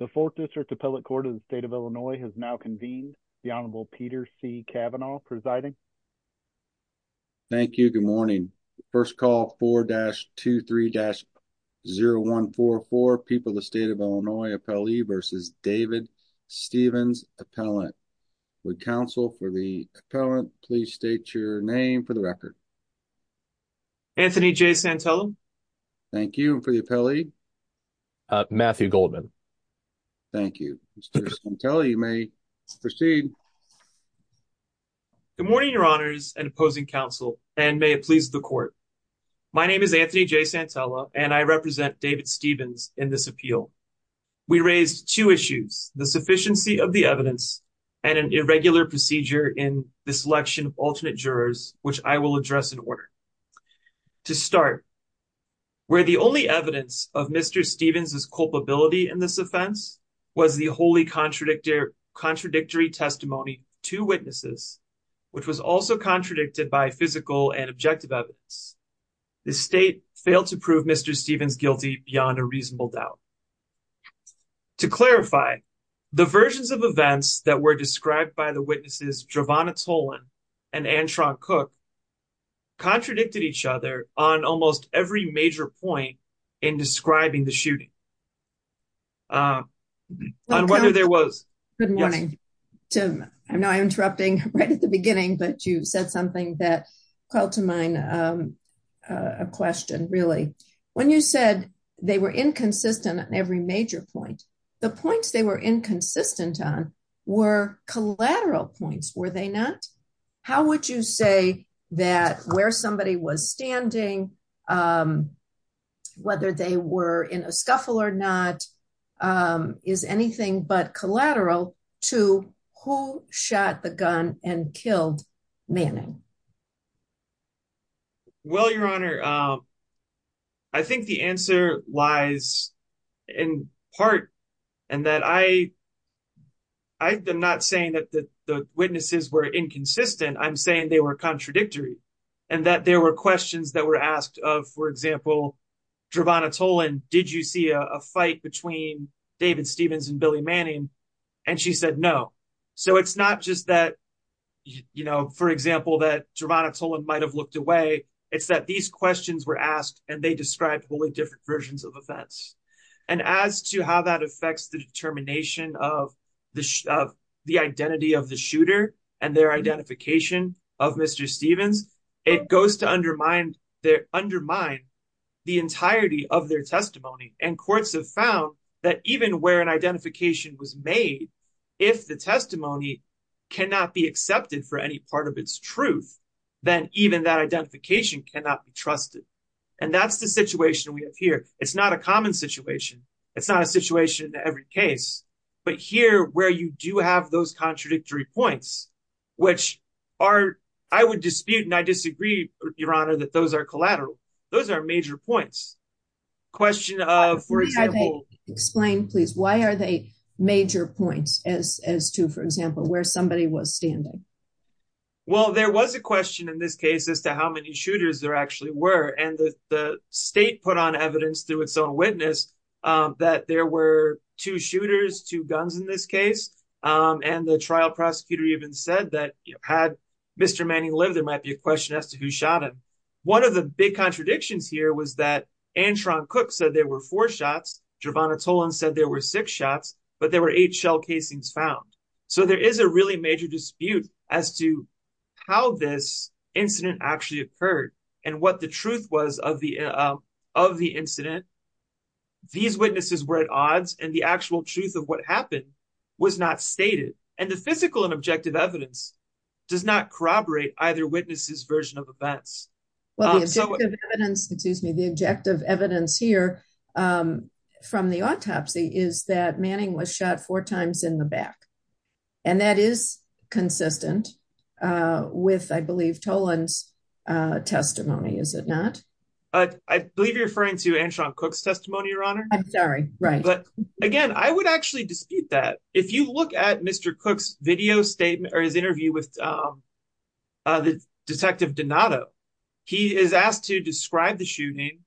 The 4th District Appellate Court of the State of Illinois has now convened. The Honorable Peter C. Kavanaugh presiding. Thank you. Good morning. First call 4-23-0144, People of the State of Illinois Appellee v. David Stephens Appellant. Would counsel for the appellant please state your name for the record. Anthony J. Santello. Thank you. And for the appellee? Matthew Goldman. Thank you. Mr. Santello, you may proceed. Good morning, your honors and opposing counsel and may it please the court. My name is Anthony J. Santello and I represent David Stephens in this appeal. We raised two issues, the sufficiency of the evidence and an irregular procedure in the selection of alternate where the only evidence of Mr. Stephens' culpability in this offense was the wholly contradictory testimony to witnesses, which was also contradicted by physical and objective evidence. The state failed to prove Mr. Stephens guilty beyond a reasonable doubt. To clarify, the versions of events that were described by the witnesses, Giovanna Tolan and Anne-Charlotte Cook, contradicted each other on almost every major point in describing the shooting. On whether there was... Good morning. Tim, I know I'm interrupting right at the beginning, but you said something that called to mind a question really. When you said they were inconsistent on every major point, the points they were inconsistent on were collateral points, were they not? How would you say that where somebody was standing, whether they were in a scuffle or not, is anything but collateral to who shot the gun and killed Manning? Well, Your Honor, I think the answer lies in part in that I'm not saying that the witnesses were inconsistent. I'm saying they were contradictory and that there were questions that were asked of, for example, Giovanna Tolan, did you see a fight between David Stephens and Billy Manning? And she might have looked away. It's that these questions were asked and they described wholly different versions of events. And as to how that affects the determination of the identity of the shooter and their identification of Mr. Stephens, it goes to undermine the entirety of their testimony. And courts have found that even where an identification was made, if the testimony cannot be accepted for any part of its truth, then even that identification cannot be trusted. And that's the situation we have here. It's not a common situation. It's not a situation in every case, but here where you do have those contradictory points, which are, I would dispute and I disagree, Your Honor, that those are collateral. Those are major points. Question of, for example, explain please, why are they major points as to, for example, where somebody was standing? Well, there was a question in this case as to how many shooters there actually were. And the state put on evidence through its own witness that there were two shooters, two guns in this case. And the trial prosecutor even said that had Mr. Manning lived, there might be a question as to who shot him. One of the big contradictions here was that Antron Cook said there were four shots. Gervonta Tolan said there were six shots, but there were eight shell casings found. So there is a really major dispute as to how this incident actually occurred and what the truth was of the incident. These witnesses were at odds and the actual truth of what happened was not stated. And the physical and objective evidence does not corroborate either version of events. Well, the objective evidence, excuse me, the objective evidence here from the autopsy is that Manning was shot four times in the back. And that is consistent with, I believe, Tolan's testimony, is it not? I believe you're referring to Antron Cook's testimony, Your Honor. I'm sorry. Right. But again, I would actually dispute that. If you look at Mr. Cook's interview with Detective Donato, he is asked to describe the shooting.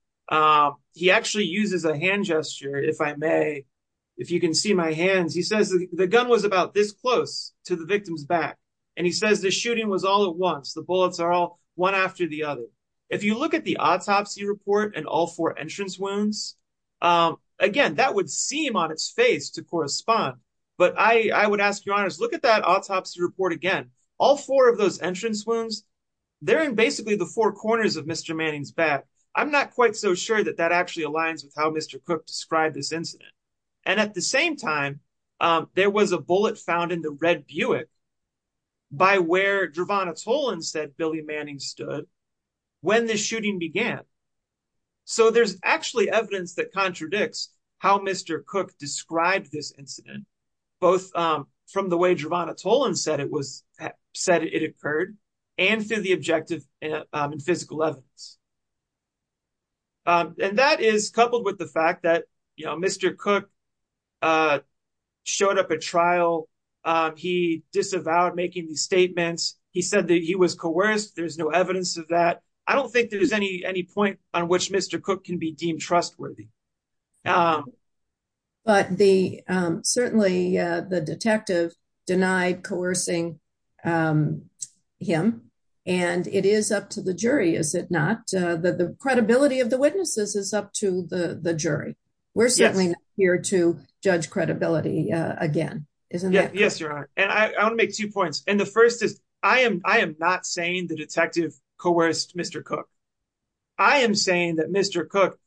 He actually uses a hand gesture, if I may. If you can see my hands, he says the gun was about this close to the victim's back. And he says the shooting was all at once. The bullets are all one after the other. If you look at the autopsy report and all four entrance wounds, again, that would seem on its face to autopsy report. Again, all four of those entrance wounds, they're in basically the four corners of Mr. Manning's back. I'm not quite so sure that that actually aligns with how Mr. Cook described this incident. And at the same time, there was a bullet found in the red Buick by where Gervonta Tolan said Billy Manning stood when the shooting began. So there's actually evidence that Tolan said it occurred and through the objective and physical evidence. And that is coupled with the fact that Mr. Cook showed up at trial. He disavowed making these statements. He said that he was coerced. There's no evidence of that. I don't think there is any point on which Mr. Cook can be deemed trustworthy. But certainly the detective denied coercing him and it is up to the jury, is it not? The credibility of the witnesses is up to the jury. We're certainly not here to judge credibility again, isn't it? Yes, you're right. And I want to make two points. And the first is I am not saying the detective coerced Mr. Cook. I am saying that Mr. Cook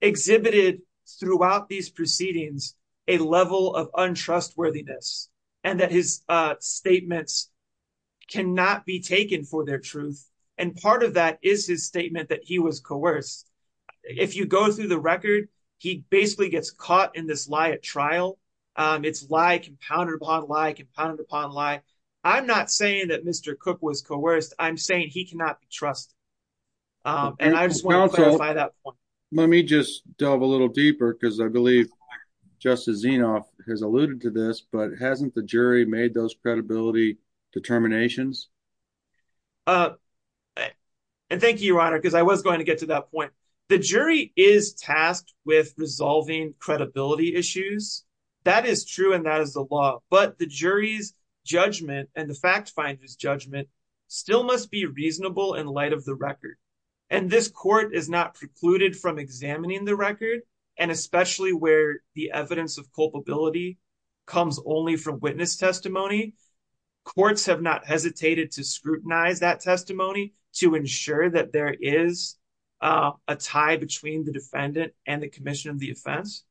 exhibited throughout these proceedings a level of untrustworthiness and that his statements cannot be taken for their truth. And part of that is his statement that he was coerced. If you go through the record, he basically gets caught in this lie at trial. It's lie compounded upon lie, compounded upon lie. I'm not saying that Mr. Cook was coerced. I'm saying he cannot be trusted. And I just want to clarify that point. Let me just delve a little deeper because I believe Justice Zinoff has alluded to this, but hasn't the jury made those credibility determinations? And thank you, Your Honor, because I was going to get to that point. The jury is tasked with resolving credibility issues. That is true and that is the law. But the jury's judgment and the fact finder's judgment still must be reasonable in light of the record. And this court is not precluded from examining the record, and especially where the evidence of culpability comes only from witness testimony. Courts have not hesitated to scrutinize that testimony to ensure that there is a tie between the defendant and the commission of the offense.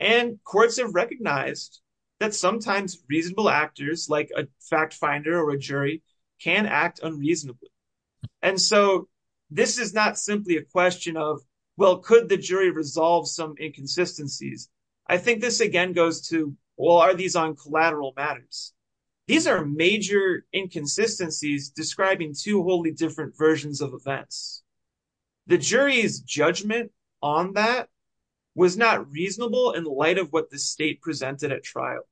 And courts have recognized that sometimes reasonable actors like a fact finder or a jury can act unreasonably. And so this is not simply a question of, well, could the jury resolve some inconsistencies? I think this, again, goes to, well, are these on collateral matters? These are major inconsistencies describing two wholly different versions of events. The jury's judgment on that was not reasonable in light of what the state presented at trial.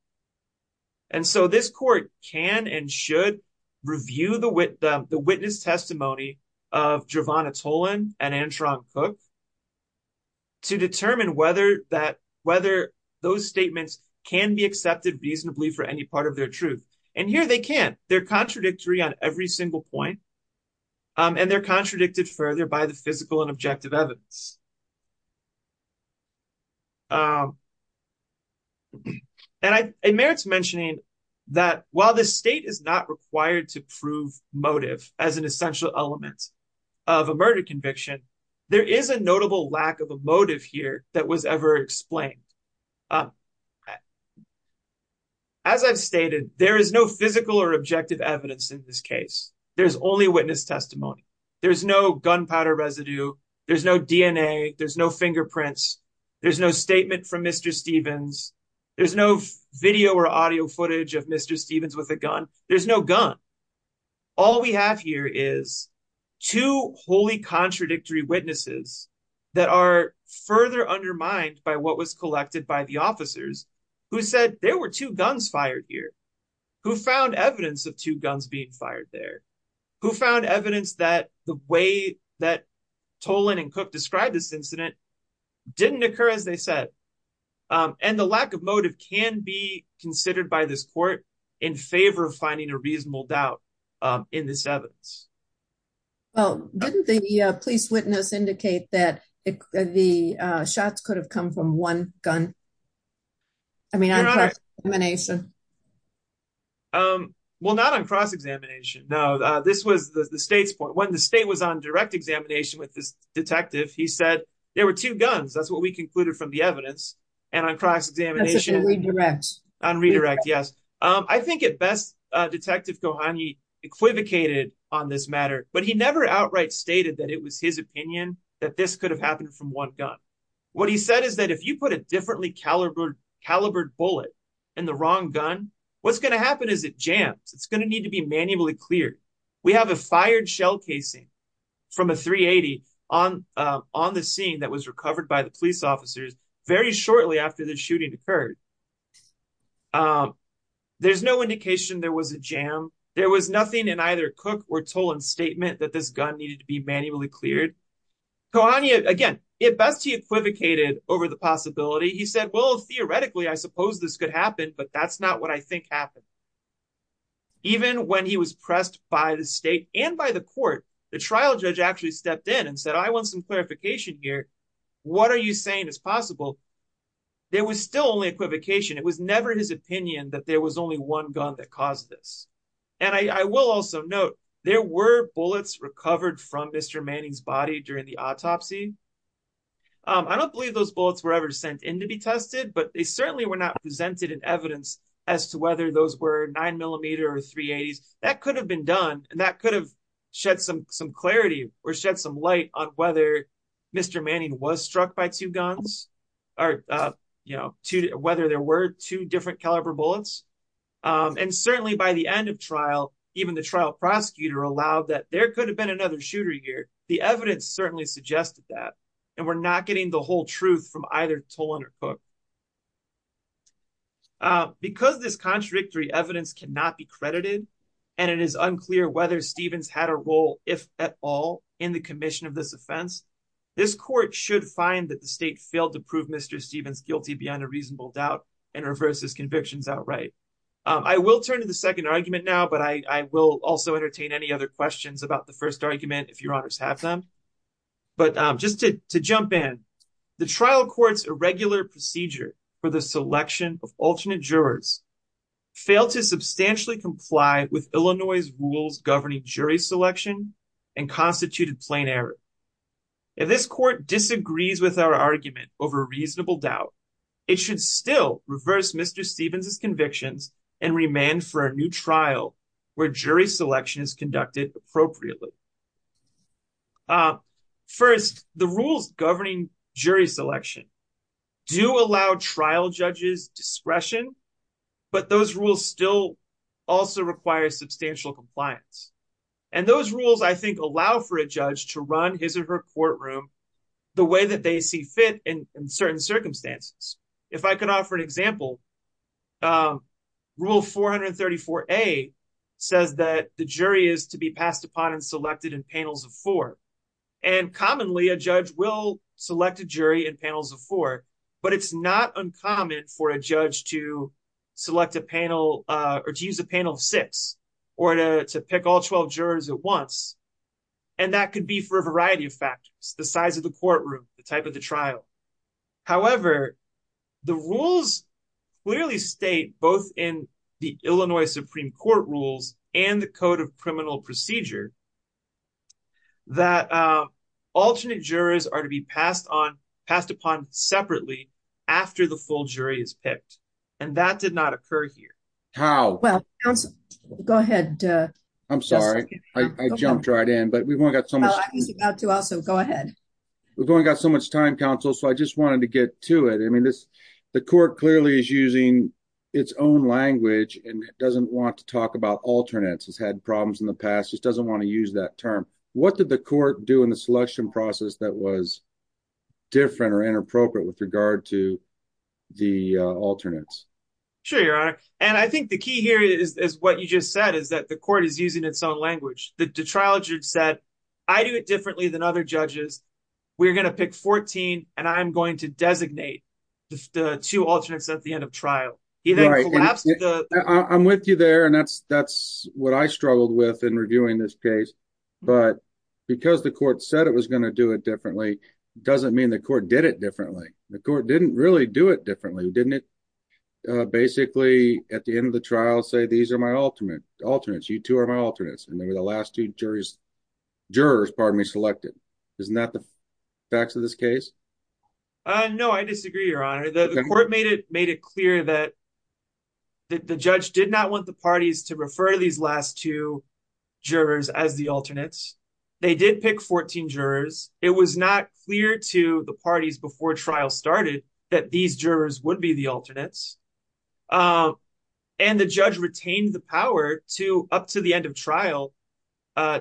And so this court can and should review the witness testimony of Giovanna Tolan and Antron Cook to determine whether those statements can be accepted reasonably for any part of their truth. And here they can. They're contradictory on every single point, and they're contradicted further by the physical and objective evidence. And it merits mentioning that while the state is not required to prove motive as an essential element of a murder conviction, there is a notable lack of a motive here that was ever explained. As I've stated, there is no physical or objective evidence in this case. There's only witness testimony. There's no gunpowder residue. There's no DNA. There's no fingerprints. There's no statement from Mr. Stevens. There's no video or audio footage of Mr. Stevens with a gun. There's no gun. All we have here is two wholly contradictory witnesses that are further undermined by what was collected by the officers who said there were two guns fired here, who found evidence of two incidents that didn't occur as they said. And the lack of motive can be considered by this court in favor of finding a reasonable doubt in this evidence. Well, didn't the police witness indicate that the shots could have come from one gun? I mean, on cross-examination. Well, not on cross-examination. No, this was the state's point. When the state was on direct examination with this detective, he said there were two guns. That's what we concluded from the evidence. And on cross-examination... On redirect. On redirect, yes. I think at best, Detective Kohani equivocated on this matter, but he never outright stated that it was his opinion that this could have happened from one gun. What he said is that if you put a differently calibered bullet in the wrong gun, what's going to happen is it jams. It's going to need to be manually cleared. We have a fired shell casing from a .380 on the scene that was recovered by the police officers very shortly after the shooting occurred. There's no indication there was a jam. There was nothing in either Cook or Toland's statement that this gun needed to be manually cleared. Kohani, again, at best, he equivocated over the possibility. He said, well, theoretically, I suppose this could happen, but that's not what I think happened. Even when he was pressed by the state and by the court, the trial judge actually stepped in and said, I want some clarification here. What are you saying is possible? There was still only equivocation. It was never his opinion that there was only one gun that caused this. And I will also note, there were bullets recovered from Mr. Manning's body during the autopsy. I don't believe those bullets were ever sent in to be tested, but they certainly were not presented in evidence as to whether those were 9mm or .380s. That could have been done, and that could have shed some clarity or shed some light on whether Mr. Manning was struck by two guns, whether there were two different caliber bullets. And certainly by the end of trial, even the trial prosecutor allowed that there could have been another shooter here. The evidence certainly suggested that, and we're not getting the whole truth from either Toland or the state, but because this contradictory evidence cannot be credited, and it is unclear whether Stevens had a role, if at all, in the commission of this offense, this court should find that the state failed to prove Mr. Stevens guilty beyond a reasonable doubt and reverse his convictions outright. I will turn to the second argument now, but I will also entertain any other questions about the first argument if your honors have them. But just to jump in, the trial court's alternate jurors failed to substantially comply with Illinois' rules governing jury selection and constituted plain error. If this court disagrees with our argument over a reasonable doubt, it should still reverse Mr. Stevens' convictions and remand for a new trial where jury selection is conducted appropriately. First, the rules governing jury selection do allow trial judges discretion, but those rules still also require substantial compliance. And those rules, I think, allow for a judge to run his or her courtroom the way that they see fit in certain circumstances. If I could offer an example, rule 434A says that the jury is to be But it's not uncommon for a judge to select a panel or to use a panel of six or to pick all 12 jurors at once, and that could be for a variety of factors, the size of the courtroom, the type of the trial. However, the rules clearly state, both in the Illinois Supreme Court rules and the Code of Criminal Procedure, that alternate jurors are to be passed upon separately after the full jury is picked, and that did not occur here. How? Well, go ahead. I'm sorry, I jumped right in, but we've only got so much time, counsel, so I just wanted to get to it. I mean, the court clearly is using its own language and doesn't want to talk about alternates. It's had problems in the past. It doesn't want to use that term. What did the court do in the selection process that was different or inappropriate with regard to the alternates? Sure, Your Honor, and I think the key here is what you just said, is that the court is using its own language. The trial judge said, I do it differently than other judges. We're going to pick 14, and I'm going to designate the two alternates at the end of trial. I'm with you there, and that's what I struggled with in reviewing this case, but because the court said it was going to do it differently doesn't mean the court did it differently. The court didn't really do it differently, didn't it? Basically, at the end of the trial, say, these are my alternates. You two are my alternates, and they were the last two jurors selected. Isn't that the facts of this case? No, I disagree, Your Honor. The court made it clear that the judge did not want the parties to refer these last two jurors as the alternates. They did pick 14 jurors. It was not clear to the parties before trial started that these jurors would be the alternates, and the judge retained the power up to the end of trial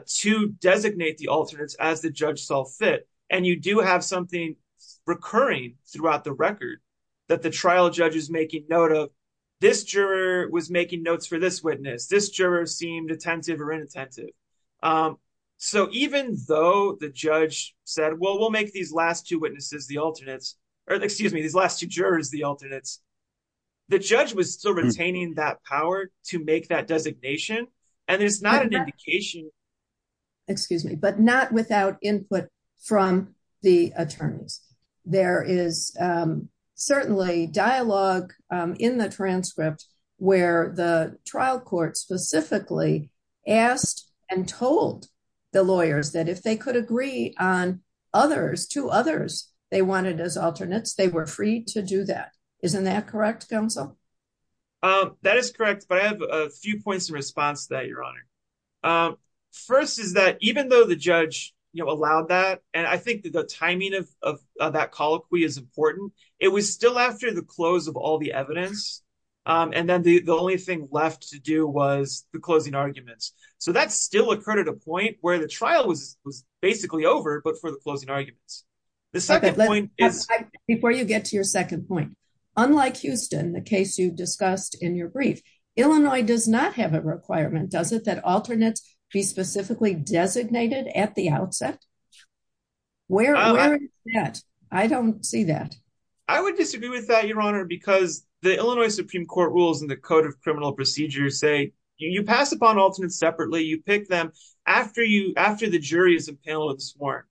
to designate the alternates as the judge saw fit. You do have something recurring throughout the record that the trial judge is making note of. This juror was making notes for this witness. This juror seemed attentive or inattentive, so even though the judge said, well, we'll make these last two jurors the alternates, the judge was still retaining that power to make that designation, and it's not an indication. Excuse me, but not without input from the attorneys. There is certainly dialogue in the transcript where the trial court specifically asked and told the lawyers that if they could agree on others, two others, they wanted as alternates, they were free to do that. Isn't that correct, counsel? That is correct, but I have a few points in response to that, Your Honor. First is that even though the judge allowed that, and I think the timing of that colloquy is important, it was still after the close of all the evidence, and then the only thing left to do was the closing arguments, so that still occurred at a point where the trial was basically over, but for the closing arguments. The second point is... Before you get to your second point, unlike Houston, the case you discussed in your brief, Illinois does not have a requirement, does it, that alternates be specifically designated at the outset? Where is that? I don't see that. I would disagree with that, Your Honor, because the Illinois Supreme Court rules in the Code of Criminal Procedures say you pass upon alternates separately, you pick them after the jury is impaled and sworn,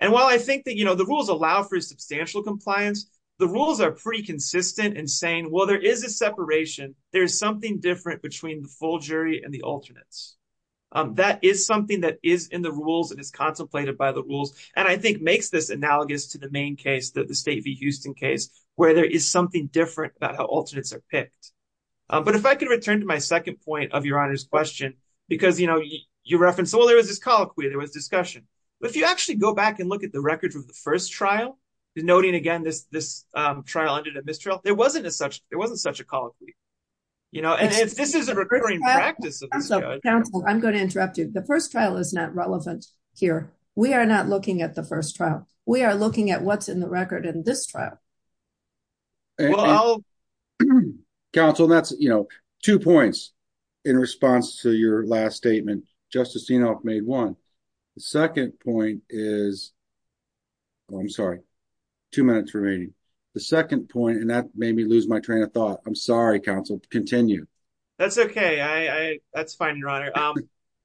and while I think that the rules allow for substantial compliance, the rules are pretty consistent in saying, well, there is a separation, there is something different between the full jury and the alternates. That is something that is in the rules and is contemplated by the rules, and I think makes this analogous to the main case, the State v. Houston case, where there is something different about how alternates are picked, but if I could return to my second point of Your Honor's question, because, you know, you referenced, well, there was this colloquy, there was discussion, but if you actually go back and look at the records of the first trial, noting, again, this trial ended in mistrial, there wasn't such a colloquy, you know, and this is a recurring practice of this judge. Counsel, I'm going to interrupt you. The first trial is not relevant here. We are not looking at the first trial. We are looking at what's in the record in this trial. Counsel, that's, you know, two points in response to your last statement. Justice Sinop. Two minutes remaining. The second point, and that made me lose my train of thought. I'm sorry, Counsel. Continue. That's okay. That's fine, Your Honor.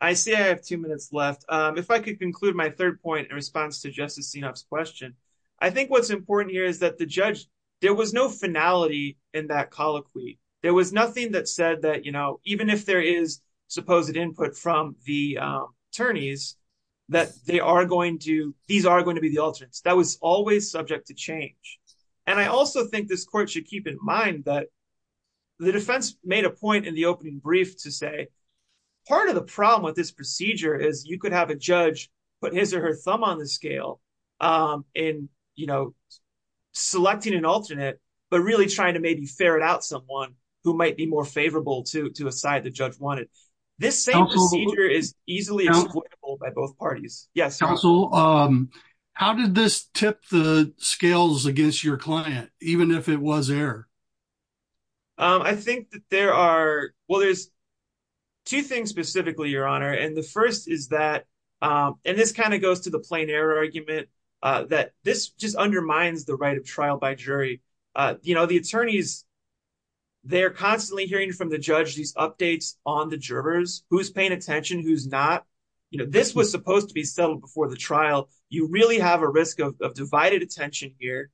I see I have two minutes left. If I could conclude my third point in response to Justice Sinop's question, I think what's important here is that the judge, there was no finality in that colloquy. There was nothing that said that, you know, even if there is supposed input from the attorneys, that they these are going to be the alternates. That was always subject to change. And I also think this court should keep in mind that the defense made a point in the opening brief to say, part of the problem with this procedure is you could have a judge put his or her thumb on the scale in, you know, selecting an alternate, but really trying to maybe ferret out someone who might be more favorable to a side the judge wanted. This same procedure is easily by both parties. Yes. Counsel, how did this tip the scales against your client, even if it was error? I think that there are, well, there's two things specifically, Your Honor. And the first is that, and this kind of goes to the plain error argument, that this just undermines the right of trial by jury. You know, the attorneys, they're constantly hearing from the judge, these updates on the jurors, who's paying attention, who's not, you know, this was supposed to be settled before the trial. You really have a risk of divided attention here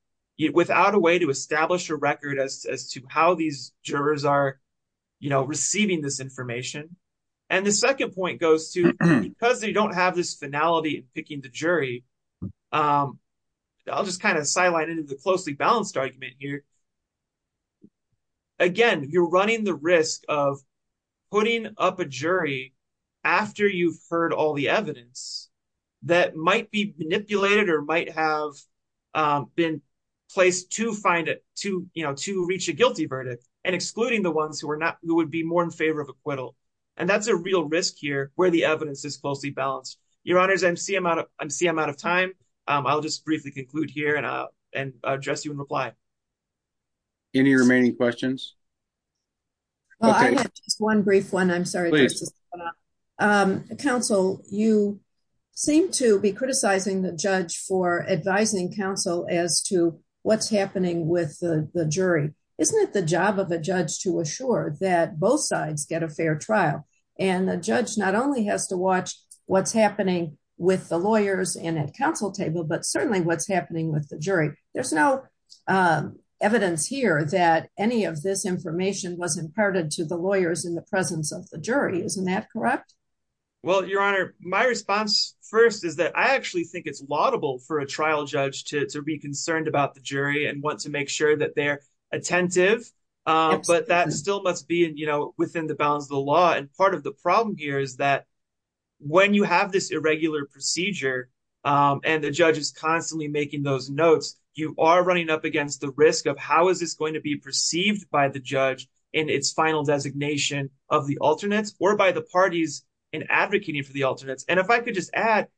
without a way to establish a record as to how these jurors are, you know, receiving this information. And the second point goes to, because they don't have this finality in picking the jury, I'll just kind of sidelined into the closely balanced argument here. So, again, you're running the risk of putting up a jury after you've heard all the evidence that might be manipulated or might have been placed to find it to, you know, to reach a guilty verdict and excluding the ones who are not, who would be more in favor of acquittal. And that's a real risk here where the evidence is closely balanced. Your Honors, I see I'm out of time. I'll just briefly conclude here and address you in reply. Any remaining questions? Well, I have just one brief one. I'm sorry. Counsel, you seem to be criticizing the judge for advising counsel as to what's happening with the jury. Isn't it the job of a judge to assure that both sides get a fair trial? And the judge not only has to watch what's happening with the lawyers and at counsel table, but certainly what's There's no evidence here that any of this information was imparted to the lawyers in the presence of the jury. Isn't that correct? Well, Your Honor, my response first is that I actually think it's laudable for a trial judge to be concerned about the jury and want to make sure that they're attentive. But that still must be, you know, within the bounds of the law. And part of the problem here is that when you have this irregular procedure and the judge is constantly making those notes, you are running up against the risk of how is this going to be perceived by the judge in its final designation of the alternates or by the parties in advocating for the alternates. And if I could just add,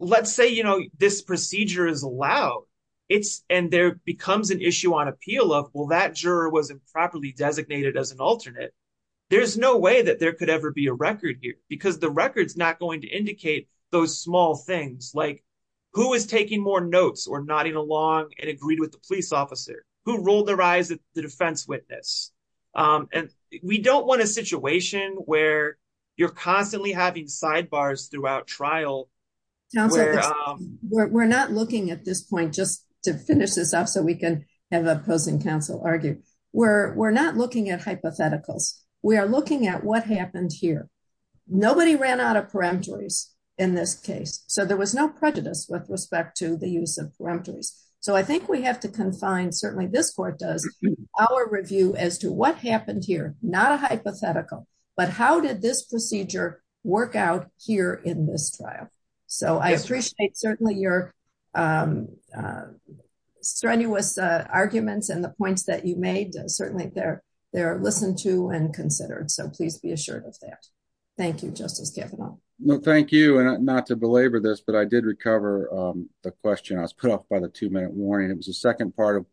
let's say, you know, this procedure is allowed. It's and there becomes an issue on appeal of, well, that juror was improperly designated as an alternate. There's no way that there could ever be a record here because the record's not going to or nodding along and agreed with the police officer who rolled their eyes at the defense witness. And we don't want a situation where you're constantly having sidebars throughout trial. We're not looking at this point just to finish this up so we can have opposing counsel argue. We're not looking at hypotheticals. We are looking at what happened here. Nobody ran out of peremptories in this case. So there was no prejudice with respect to the use of peremptories. So I think we have to confine certainly this court does our review as to what happened here, not a hypothetical, but how did this procedure work out here in this trial? So I appreciate certainly your strenuous arguments and the points that you made. Certainly they're, they're listened to and considered. So please be assured of that. Thank you, Justice Kavanaugh. No, thank you. And not to belabor this, but I did recover the question I was put up by the two minute warning. It was the second part of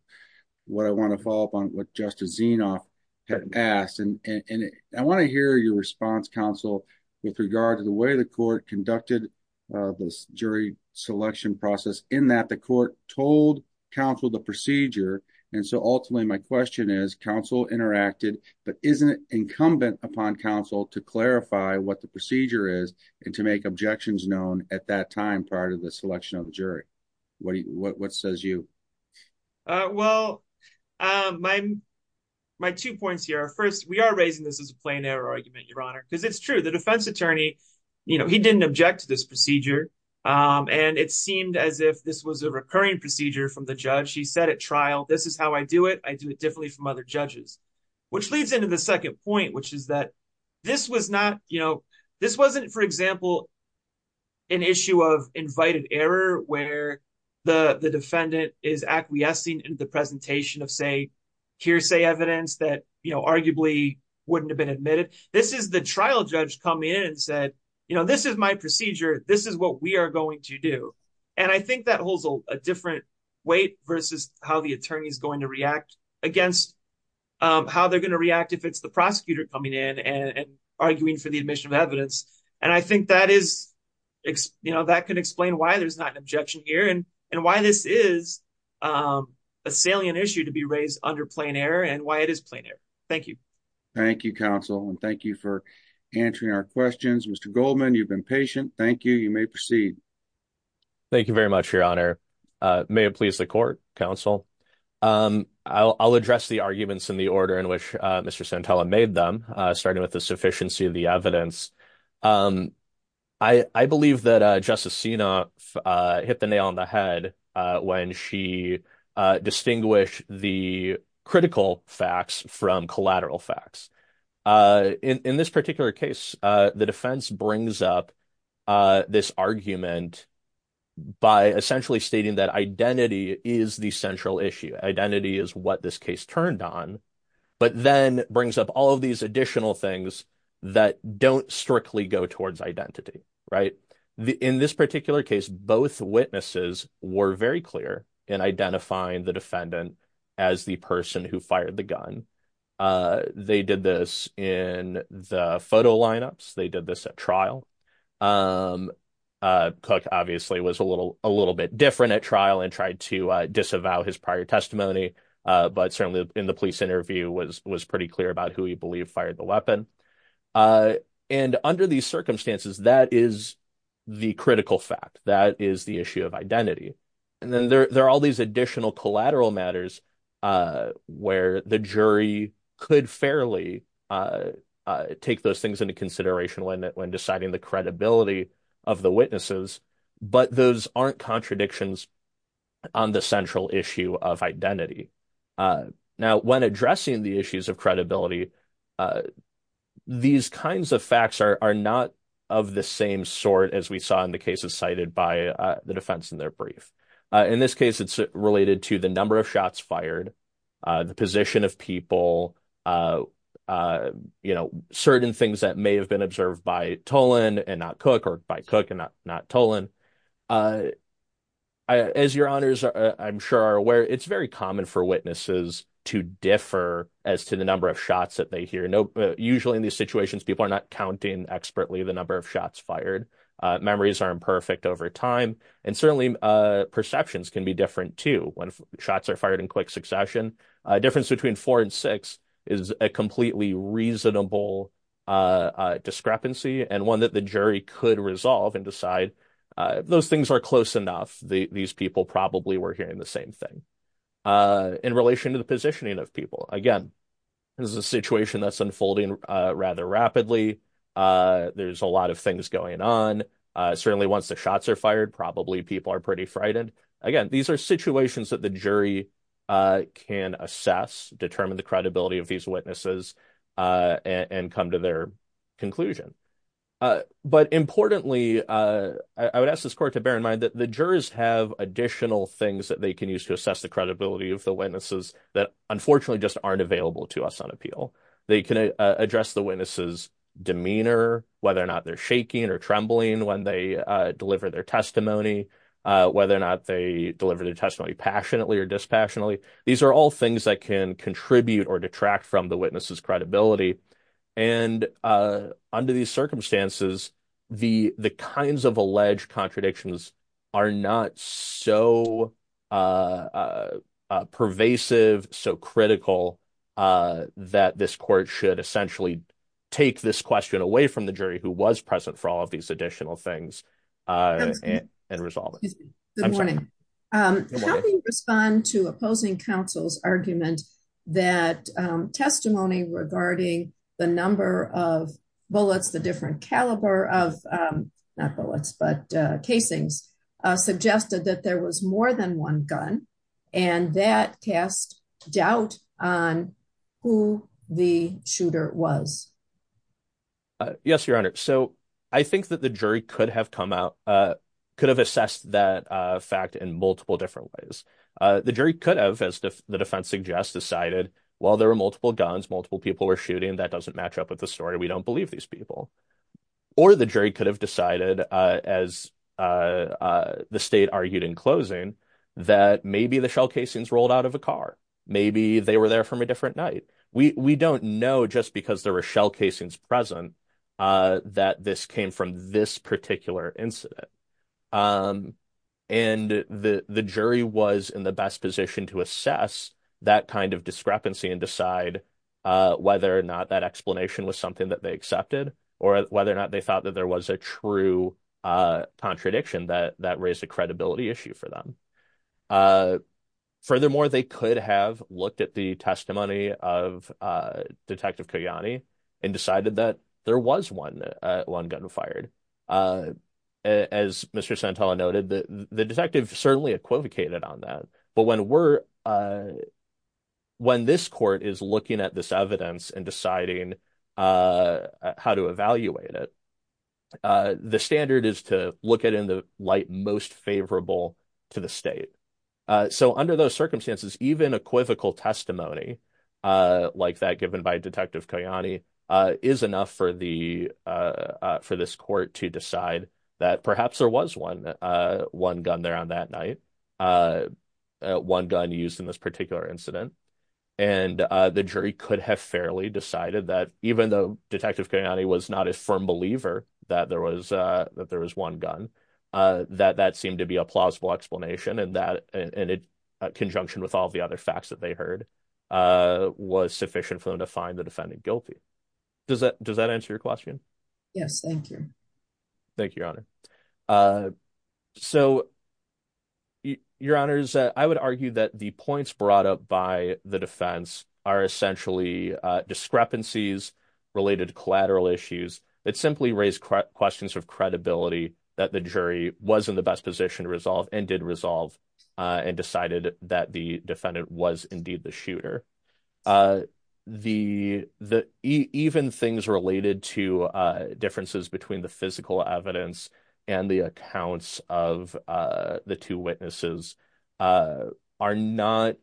what I want to follow up on what Justice Zinoff had asked. And I want to hear your response counsel with regard to the way the court conducted this jury selection process in that the court told counsel the procedure. And so ultimately my question is counsel interacted, but isn't it incumbent upon counsel to clarify what the procedure is and to make objections known at that time, prior to the selection of the jury? What do you, what, what says you? Well, my, my two points here are first, we are raising this as a plain error argument, Your Honor, because it's true. The defense attorney, you know, he didn't object to this procedure. And it seemed as if this was a recurring procedure from the judge. He said trial, this is how I do it. I do it differently from other judges, which leads into the second point, which is that this was not, you know, this wasn't, for example, an issue of invited error, where the defendant is acquiescing in the presentation of say hearsay evidence that, you know, arguably wouldn't have been admitted. This is the trial judge come in and said, you know, this is my procedure. This is what we are going to do. And I think that holds a different weight versus how the attorney is going to react against how they're going to react if it's the prosecutor coming in and arguing for the admission of evidence. And I think that is, you know, that could explain why there's not an objection here and why this is a salient issue to be raised under plain error and why it is plain error. Thank you. Thank you, counsel. And thank you for answering our questions. Mr. Goldman, you've been patient. Thank you. You may proceed. Thank you very much, Your Honor. May it please the court, counsel. I'll address the arguments in the order in which Mr. Santella made them, starting with the sufficiency of the evidence. I believe that Justice Sina hit the nail on the head when she distinguished the critical facts from collateral facts. In this particular case, the defense brings up this argument by essentially stating that identity is the central issue. Identity is what this case turned on, but then brings up all of these additional things that don't strictly go towards identity, right? In this particular case, both witnesses were very clear in identifying the defendant as the person who fired the gun. They did this in the photo lineups. They did this at trial. Cook obviously was a little bit different at trial and tried to disavow his prior testimony, but certainly in the police interview was pretty clear about who he believed fired the weapon. And under these circumstances, that is the critical fact. That is the issue of identity. And then there are all these additional collateral matters where the jury could fairly take those things into consideration when deciding the credibility of the witnesses, but those aren't contradictions on the central issue of identity. Now, when addressing the issues of credibility, these kinds of facts are not of the same sort as we saw in the cases cited by the defense in their brief. In this case, it's related to the number of shots fired, the position of people, certain things that may have been observed by Tolan and not Cook, or by Cook and not Tolan. As your honors, I'm sure are aware, it's very common for witnesses to differ as to the number of shots that they hear. Usually in these situations, people are not counting expertly the number of shots fired. Memories are imperfect over time, and certainly perceptions can be different too. When shots are fired in quick succession, a difference between four and six is a completely reasonable discrepancy, and one that the jury could resolve and decide those things are close enough. These people probably were hearing the same thing. In relation to the positioning of people, again, this is a situation that's unfolding rather rapidly. There's a lot of things going on. Certainly once the shots are fired, probably people are pretty frightened. Again, these are situations that the jury can assess, determine the credibility of these witnesses, and come to their conclusion. Importantly, I would ask this court to bear in mind that the jurors have additional things that they can use to assess the credibility of the witnesses that unfortunately just aren't available to us on appeal. They can address the witness's demeanor, whether or not they're shaking or trembling when they deliver their testimony, whether or not they deliver their testimony passionately or dispassionately. These are all things that can contribute or detract from the witness's credibility, and under these circumstances, the kinds of alleged contradictions are not so pervasive, so critical, that this court should essentially take this question away from the jury who was present for all of these additional things and resolve it. Good morning. How do you respond to opposing counsel's argument that testimony regarding the number of bullets, the different caliber of, not bullets, but casings, suggested that there was more than one gun, and that cast doubt on who the shooter was? Yes, Your Honor. So I think that the jury could have come out, could have assessed that fact in multiple different ways. The jury could have, as the defense suggests, decided, well, there were multiple guns, multiple people were shooting, that doesn't match up with the story, we don't believe these people. Or the jury could have decided, as the state argued in closing, that maybe the shell casings rolled out of a car, maybe they were there from a different night. We don't know just because there were shell casings present that this came from this particular incident. And the jury was in the best position to assess that kind of discrepancy and decide whether or not that explanation was something that they accepted, or whether or not they thought that there was a true contradiction that raised a credibility issue for them. Furthermore, they could have looked at the testimony of Detective Kayani and decided that there was one gun fired. As Mr. Santella noted, the detective certainly equivocated on that. But when this court is looking at this evidence and deciding how to evaluate it, the standard is to look at it in the light most favorable to the state. So under those circumstances, even equivocal testimony like that given by Detective Kayani is enough for this court to decide that perhaps there was one gun there on that night, one gun used in this particular incident. And the jury could have fairly decided that even though Detective Kayani was not a firm believer that there was one gun, that that seemed to be a plausible explanation and that, in conjunction with all the other facts that they heard, was sufficient for them to find the defendant guilty. Does that answer your question? Yes, thank you. Thank you, Your Honor. So, Your Honors, I would argue that the points brought up by the defense are essentially discrepancies related to collateral issues that simply raise questions of credibility that the jury was in the best position to resolve and did resolve and decided that the defendant was indeed the shooter. Even things related to differences between the physical evidence and the accounts of the two witnesses are not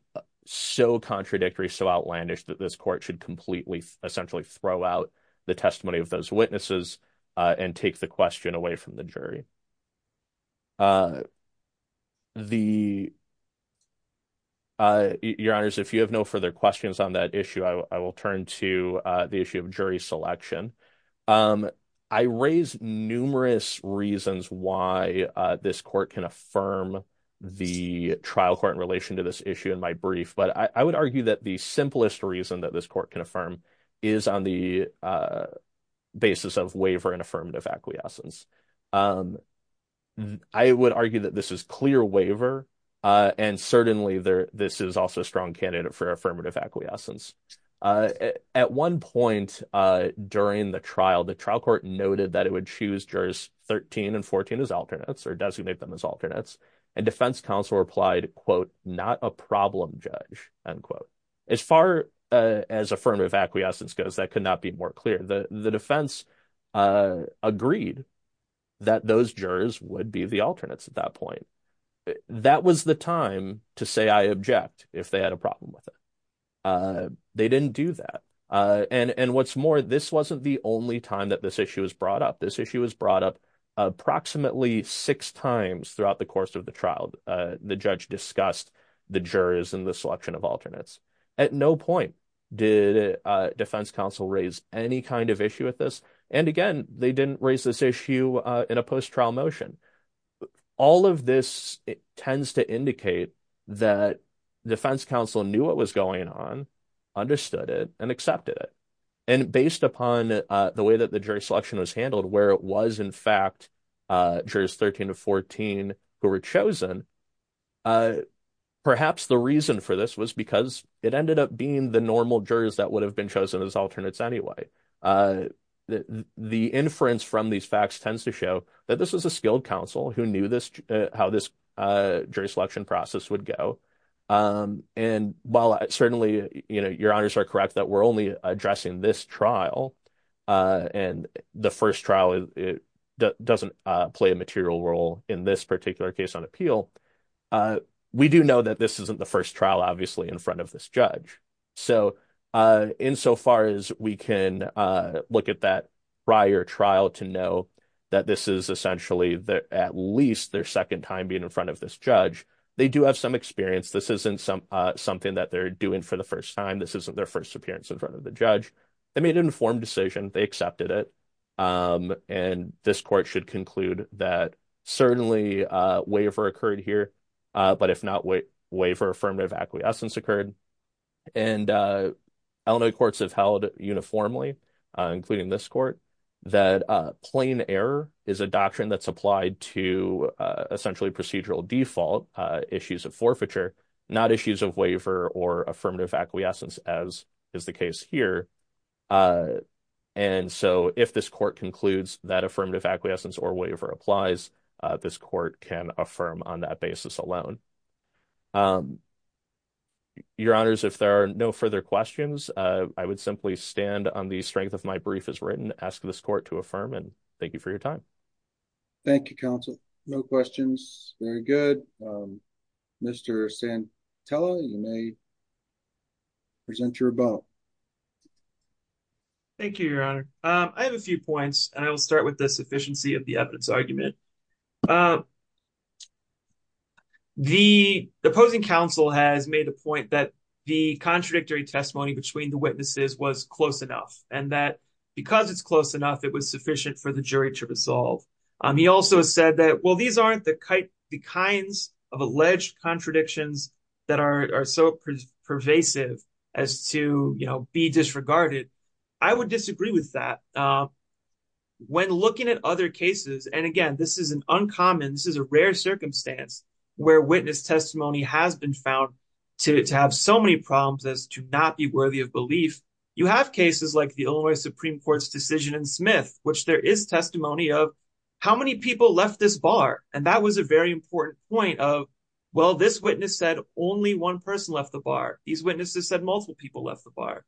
so contradictory, so outlandish, that this court should completely essentially throw out the testimony of those witnesses and take the question away from the jury. Your Honors, if you have no further questions on that issue, I will turn to the issue of jury selection. I raise numerous reasons why this court can affirm the trial court in relation to this issue in my brief, but I would argue that the simplest reason that this court can affirm is on the basis of waiver and affirmative acquiescence. I would argue that this is clear waiver and certainly this is also a strong candidate for affirmative acquiescence. At one point during the trial, the trial court noted that it would choose jurors 13 and 14 as alternates or designate them as alternates, and defense counsel replied, quote, not a problem judge, unquote. As far as affirmative acquiescence goes, that could not be more clear. The defense agreed that those jurors would be the alternates at that point. That was the time to say I object if they had a problem with it. They didn't do that, and what's more, this wasn't the only time that this issue was brought up. This issue was brought up approximately six times throughout the selection of alternates. At no point did defense counsel raise any kind of issue with this, and again, they didn't raise this issue in a post-trial motion. All of this tends to indicate that defense counsel knew what was going on, understood it, and accepted it, and based upon the way that the jury selection was handled, where it was in fact jurors 13 to 14 who were chosen, perhaps the reason for this was because it ended up being the normal jurors that would have been chosen as alternates anyway. The inference from these facts tends to show that this was a skilled counsel who knew how this jury selection process would go, and while certainly, you know, your honors are correct that we're only addressing this trial, and the first trial doesn't play a material role in this particular case on appeal, we do know that this isn't the first trial obviously in front of this judge, so insofar as we can look at that prior trial to know that this is essentially at least their second time being in front of this judge, they do have some experience. This isn't something that they're doing for the first time. This isn't their first appearance in front of the judge. They made an informed decision. They accepted it, and this court should conclude that certainly waiver occurred here, but if not, waiver affirmative acquiescence occurred, and Illinois courts have held uniformly, including this court, that plain error is a doctrine that's applied to essentially procedural default issues of forfeiture, not issues of waiver or affirmative acquiescence as is the case here, and so if this court concludes that affirmative acquiescence or waiver applies, this court can affirm on that basis alone. Your honors, if there are no further questions, I would simply stand on the strength of my brief as written, ask this court to affirm, and thank you for your time. Thank you, counsel. No questions. Very good. Mr. Santella, you may present your vote. Thank you, your honor. I have a few points, and I will start with the sufficiency of the evidence argument. The opposing counsel has made a point that the contradictory testimony between the witnesses was close enough, and that because it's close enough, it was sufficient for the jury to resolve. He also said that, well, these aren't the kinds of alleged contradictions that are so pervasive as to, you know, be disregarded. I would disagree with that. When looking at other cases, and again, this is an uncommon, this is a rare circumstance where witness testimony has been found to have so many problems as to not be worthy of belief, you have cases like the Illinois Supreme Court's decision in Smith, which there is testimony of how many people left this bar, and that was a very important point of, well, this witness said only one person left the bar. These witnesses said multiple people left the bar.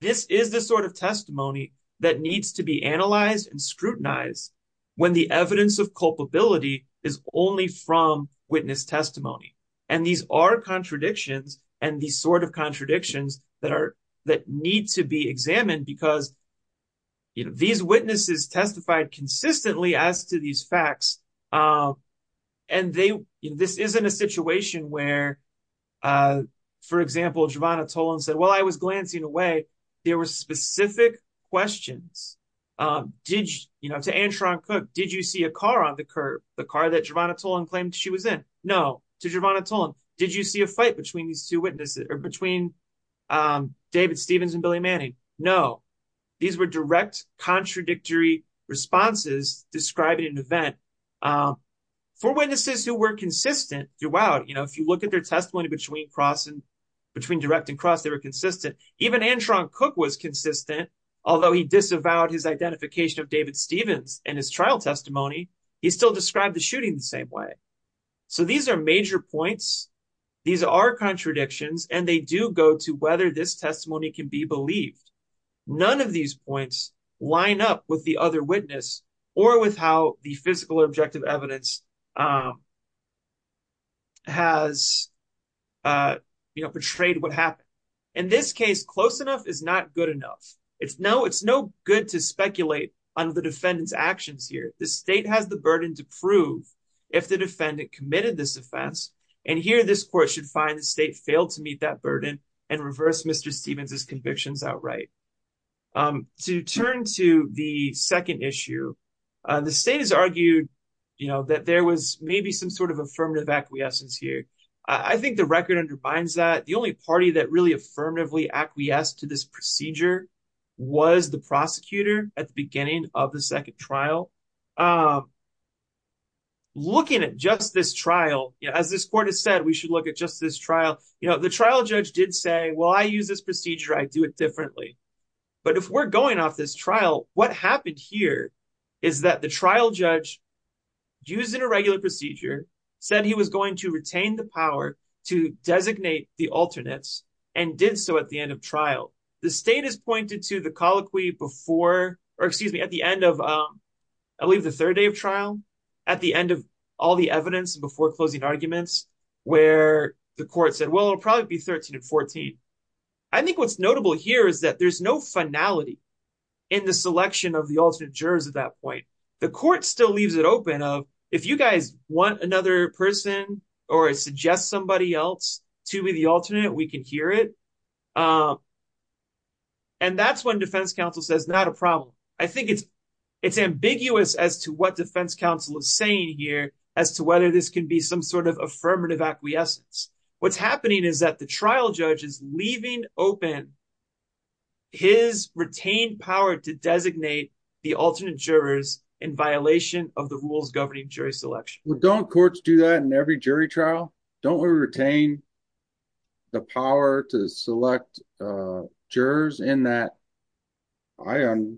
This is the sort of testimony that needs to be analyzed and scrutinized when the evidence of culpability is only from witness testimony, and these are contradictions, and these sort of contradictions that need to be examined because, you know, these witnesses testified consistently as to these facts, and this isn't a situation where, for example, Gervonta Tolan said, well, I was glancing away. There were specific questions, you know, to Antron Cook, did you see a car on the curb, the car that Gervonta Tolan claimed she was in? No. To Gervonta Tolan, did you see a fight between these two witnesses or between David Stevens and describing an event? For witnesses who were consistent throughout, you know, if you look at their testimony between direct and cross, they were consistent. Even Antron Cook was consistent. Although he disavowed his identification of David Stevens in his trial testimony, he still described the shooting the same way. So these are major points. These are contradictions, and they do go to whether this testimony can be believed. None of these points line up with the other witness or with how the physical objective evidence has, you know, portrayed what happened. In this case, close enough is not good enough. It's no good to speculate on the defendant's actions here. The state has the burden to prove if the defendant committed this offense, and here this court should find the state failed to meet that burden and reverse Mr. Turn to the second issue. The state has argued, you know, that there was maybe some sort of affirmative acquiescence here. I think the record undermines that. The only party that really affirmatively acquiesced to this procedure was the prosecutor at the beginning of the second trial. Looking at just this trial, as this court has said, we should look at just this trial. You know, the trial judge did say, well, I use this procedure. I do it differently. But if we're going off this trial, what happened here is that the trial judge, using a regular procedure, said he was going to retain the power to designate the alternates and did so at the end of trial. The state has pointed to the colloquy before, or excuse me, at the end of, I believe the third day of trial, at the end of all the evidence before closing arguments, where the court said, well, it'll probably be 13 and 14. I think what's notable here is that there's no finality in the selection of the alternate jurors at that point. The court still leaves it open of if you guys want another person or suggest somebody else to be the alternate, we can hear it. And that's when defense counsel says, not a problem. I think it's ambiguous as to what defense counsel is saying here as to whether this can be some sort of affirmative acquiescence. What's happening is that the trial judge is leaving open his retained power to designate the alternate jurors in violation of the rules governing jury selection. Well, don't courts do that in every jury trial? Don't we retain the power to select jurors in that? I, on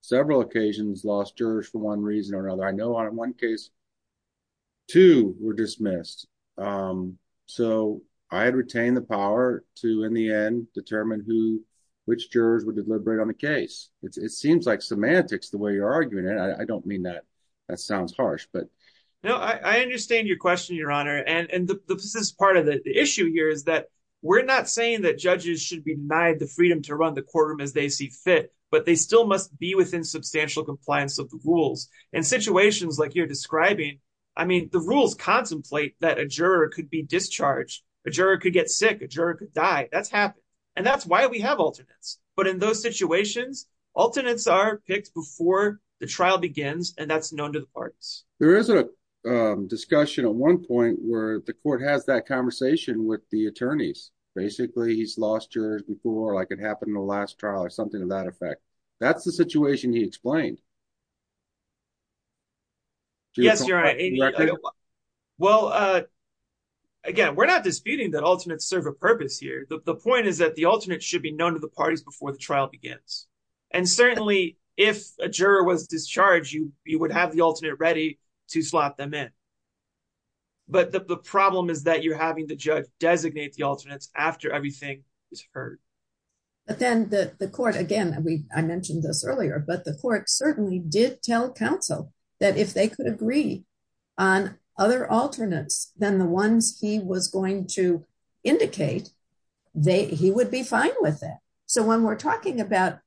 several occasions, lost jurors for one reason or another. I know on one case, two were dismissed. So I had retained the power to, in the end, determine who, which jurors would deliberate on the case. It seems like semantics the way you're arguing it. I don't mean that. That sounds harsh, but. No, I understand your question, Your Honor. And this is part of the issue here is that we're not saying that judges should be denied the freedom to run the courtroom as they see fit, but they still must be within substantial compliance of the rules. In situations like you're describing, I mean, the rules contemplate that a juror could be discharged. A juror could get sick. A juror could die. That's happened. And that's why we have alternates. But in those situations, alternates are picked before the trial begins, and that's known to the parties. There is a discussion at one point where the court has that conversation with the attorneys. Basically, he's lost jurors before, like it happened in the last trial or something of that effect. That's the situation he explained. Yes, Your Honor. Well, again, we're not disputing that alternates serve a purpose here. The point is that the alternate should be known to the parties before the trial begins. And certainly, if a juror was discharged, you would have the alternate ready to slot them in. But the problem is that you're having the judge designate the alternates after everything is heard. But then the court, again, I mentioned this earlier, but the court certainly did tell counsel that if they could agree on other alternates than the ones he was going to indicate, he would be fine with that. So when we're talking about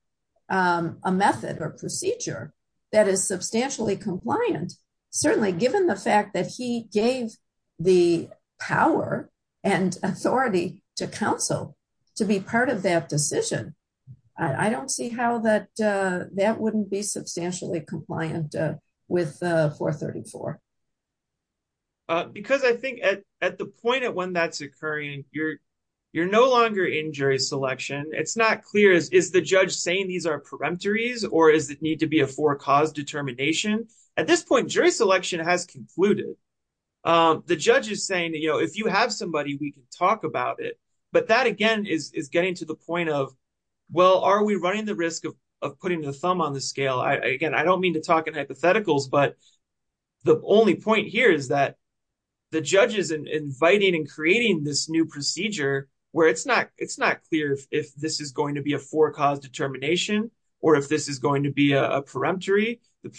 a method or procedure that is substantially compliant, certainly given the fact that he gave the power and authority to counsel to be part of that decision, I don't see how that wouldn't be substantially compliant with 434. Because I think at the point at when that's occurring, you're no longer in jury selection. It's not clear. Is the judge saying these are peremptories or does it need to be a four cause determination? At this point, jury selection has concluded. The judge is saying if you have somebody, we can talk about it. But that, again, is getting to the point of, well, are we running the risk of putting the thumb on the scale? Again, I don't mean to talk in hypotheticals, but the only point here is that the judge is inviting and creating this new procedure where it's not clear if this is going to be a four cause determination or if this is going to be a peremptory. The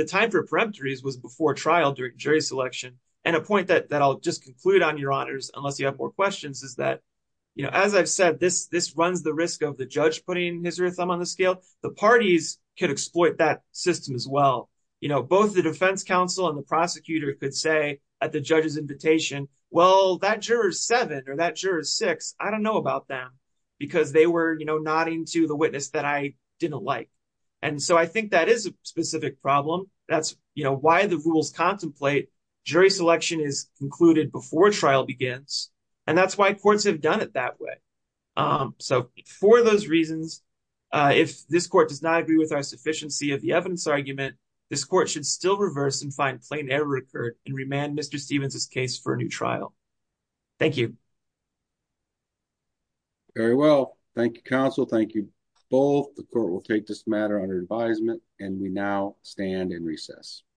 time for peremptories was before trial during jury selection. And a point that I'll just conclude on, Your Honors, unless you have more questions, is that as I've said, this runs the risk of the judge putting his or her thumb on the scale. The parties could exploit that system as well. Both the defense counsel and the prosecutor could say at the judge's invitation, well, that juror's seven or that juror's six, I don't know about them because they were nodding to the witness that I didn't like. And so I think that is a specific problem. That's why the rules contemplate jury selection is concluded before trial begins. And that's why courts have done it that way. So for those reasons, if this court does not agree with our sufficiency of the evidence argument, this court should still reverse and find plain error occurred and remand Mr. Stevens's case for a new trial. Thank you. Very well. Thank you, counsel. Thank you both. The court will take this matter under advisement and we now stand in recess.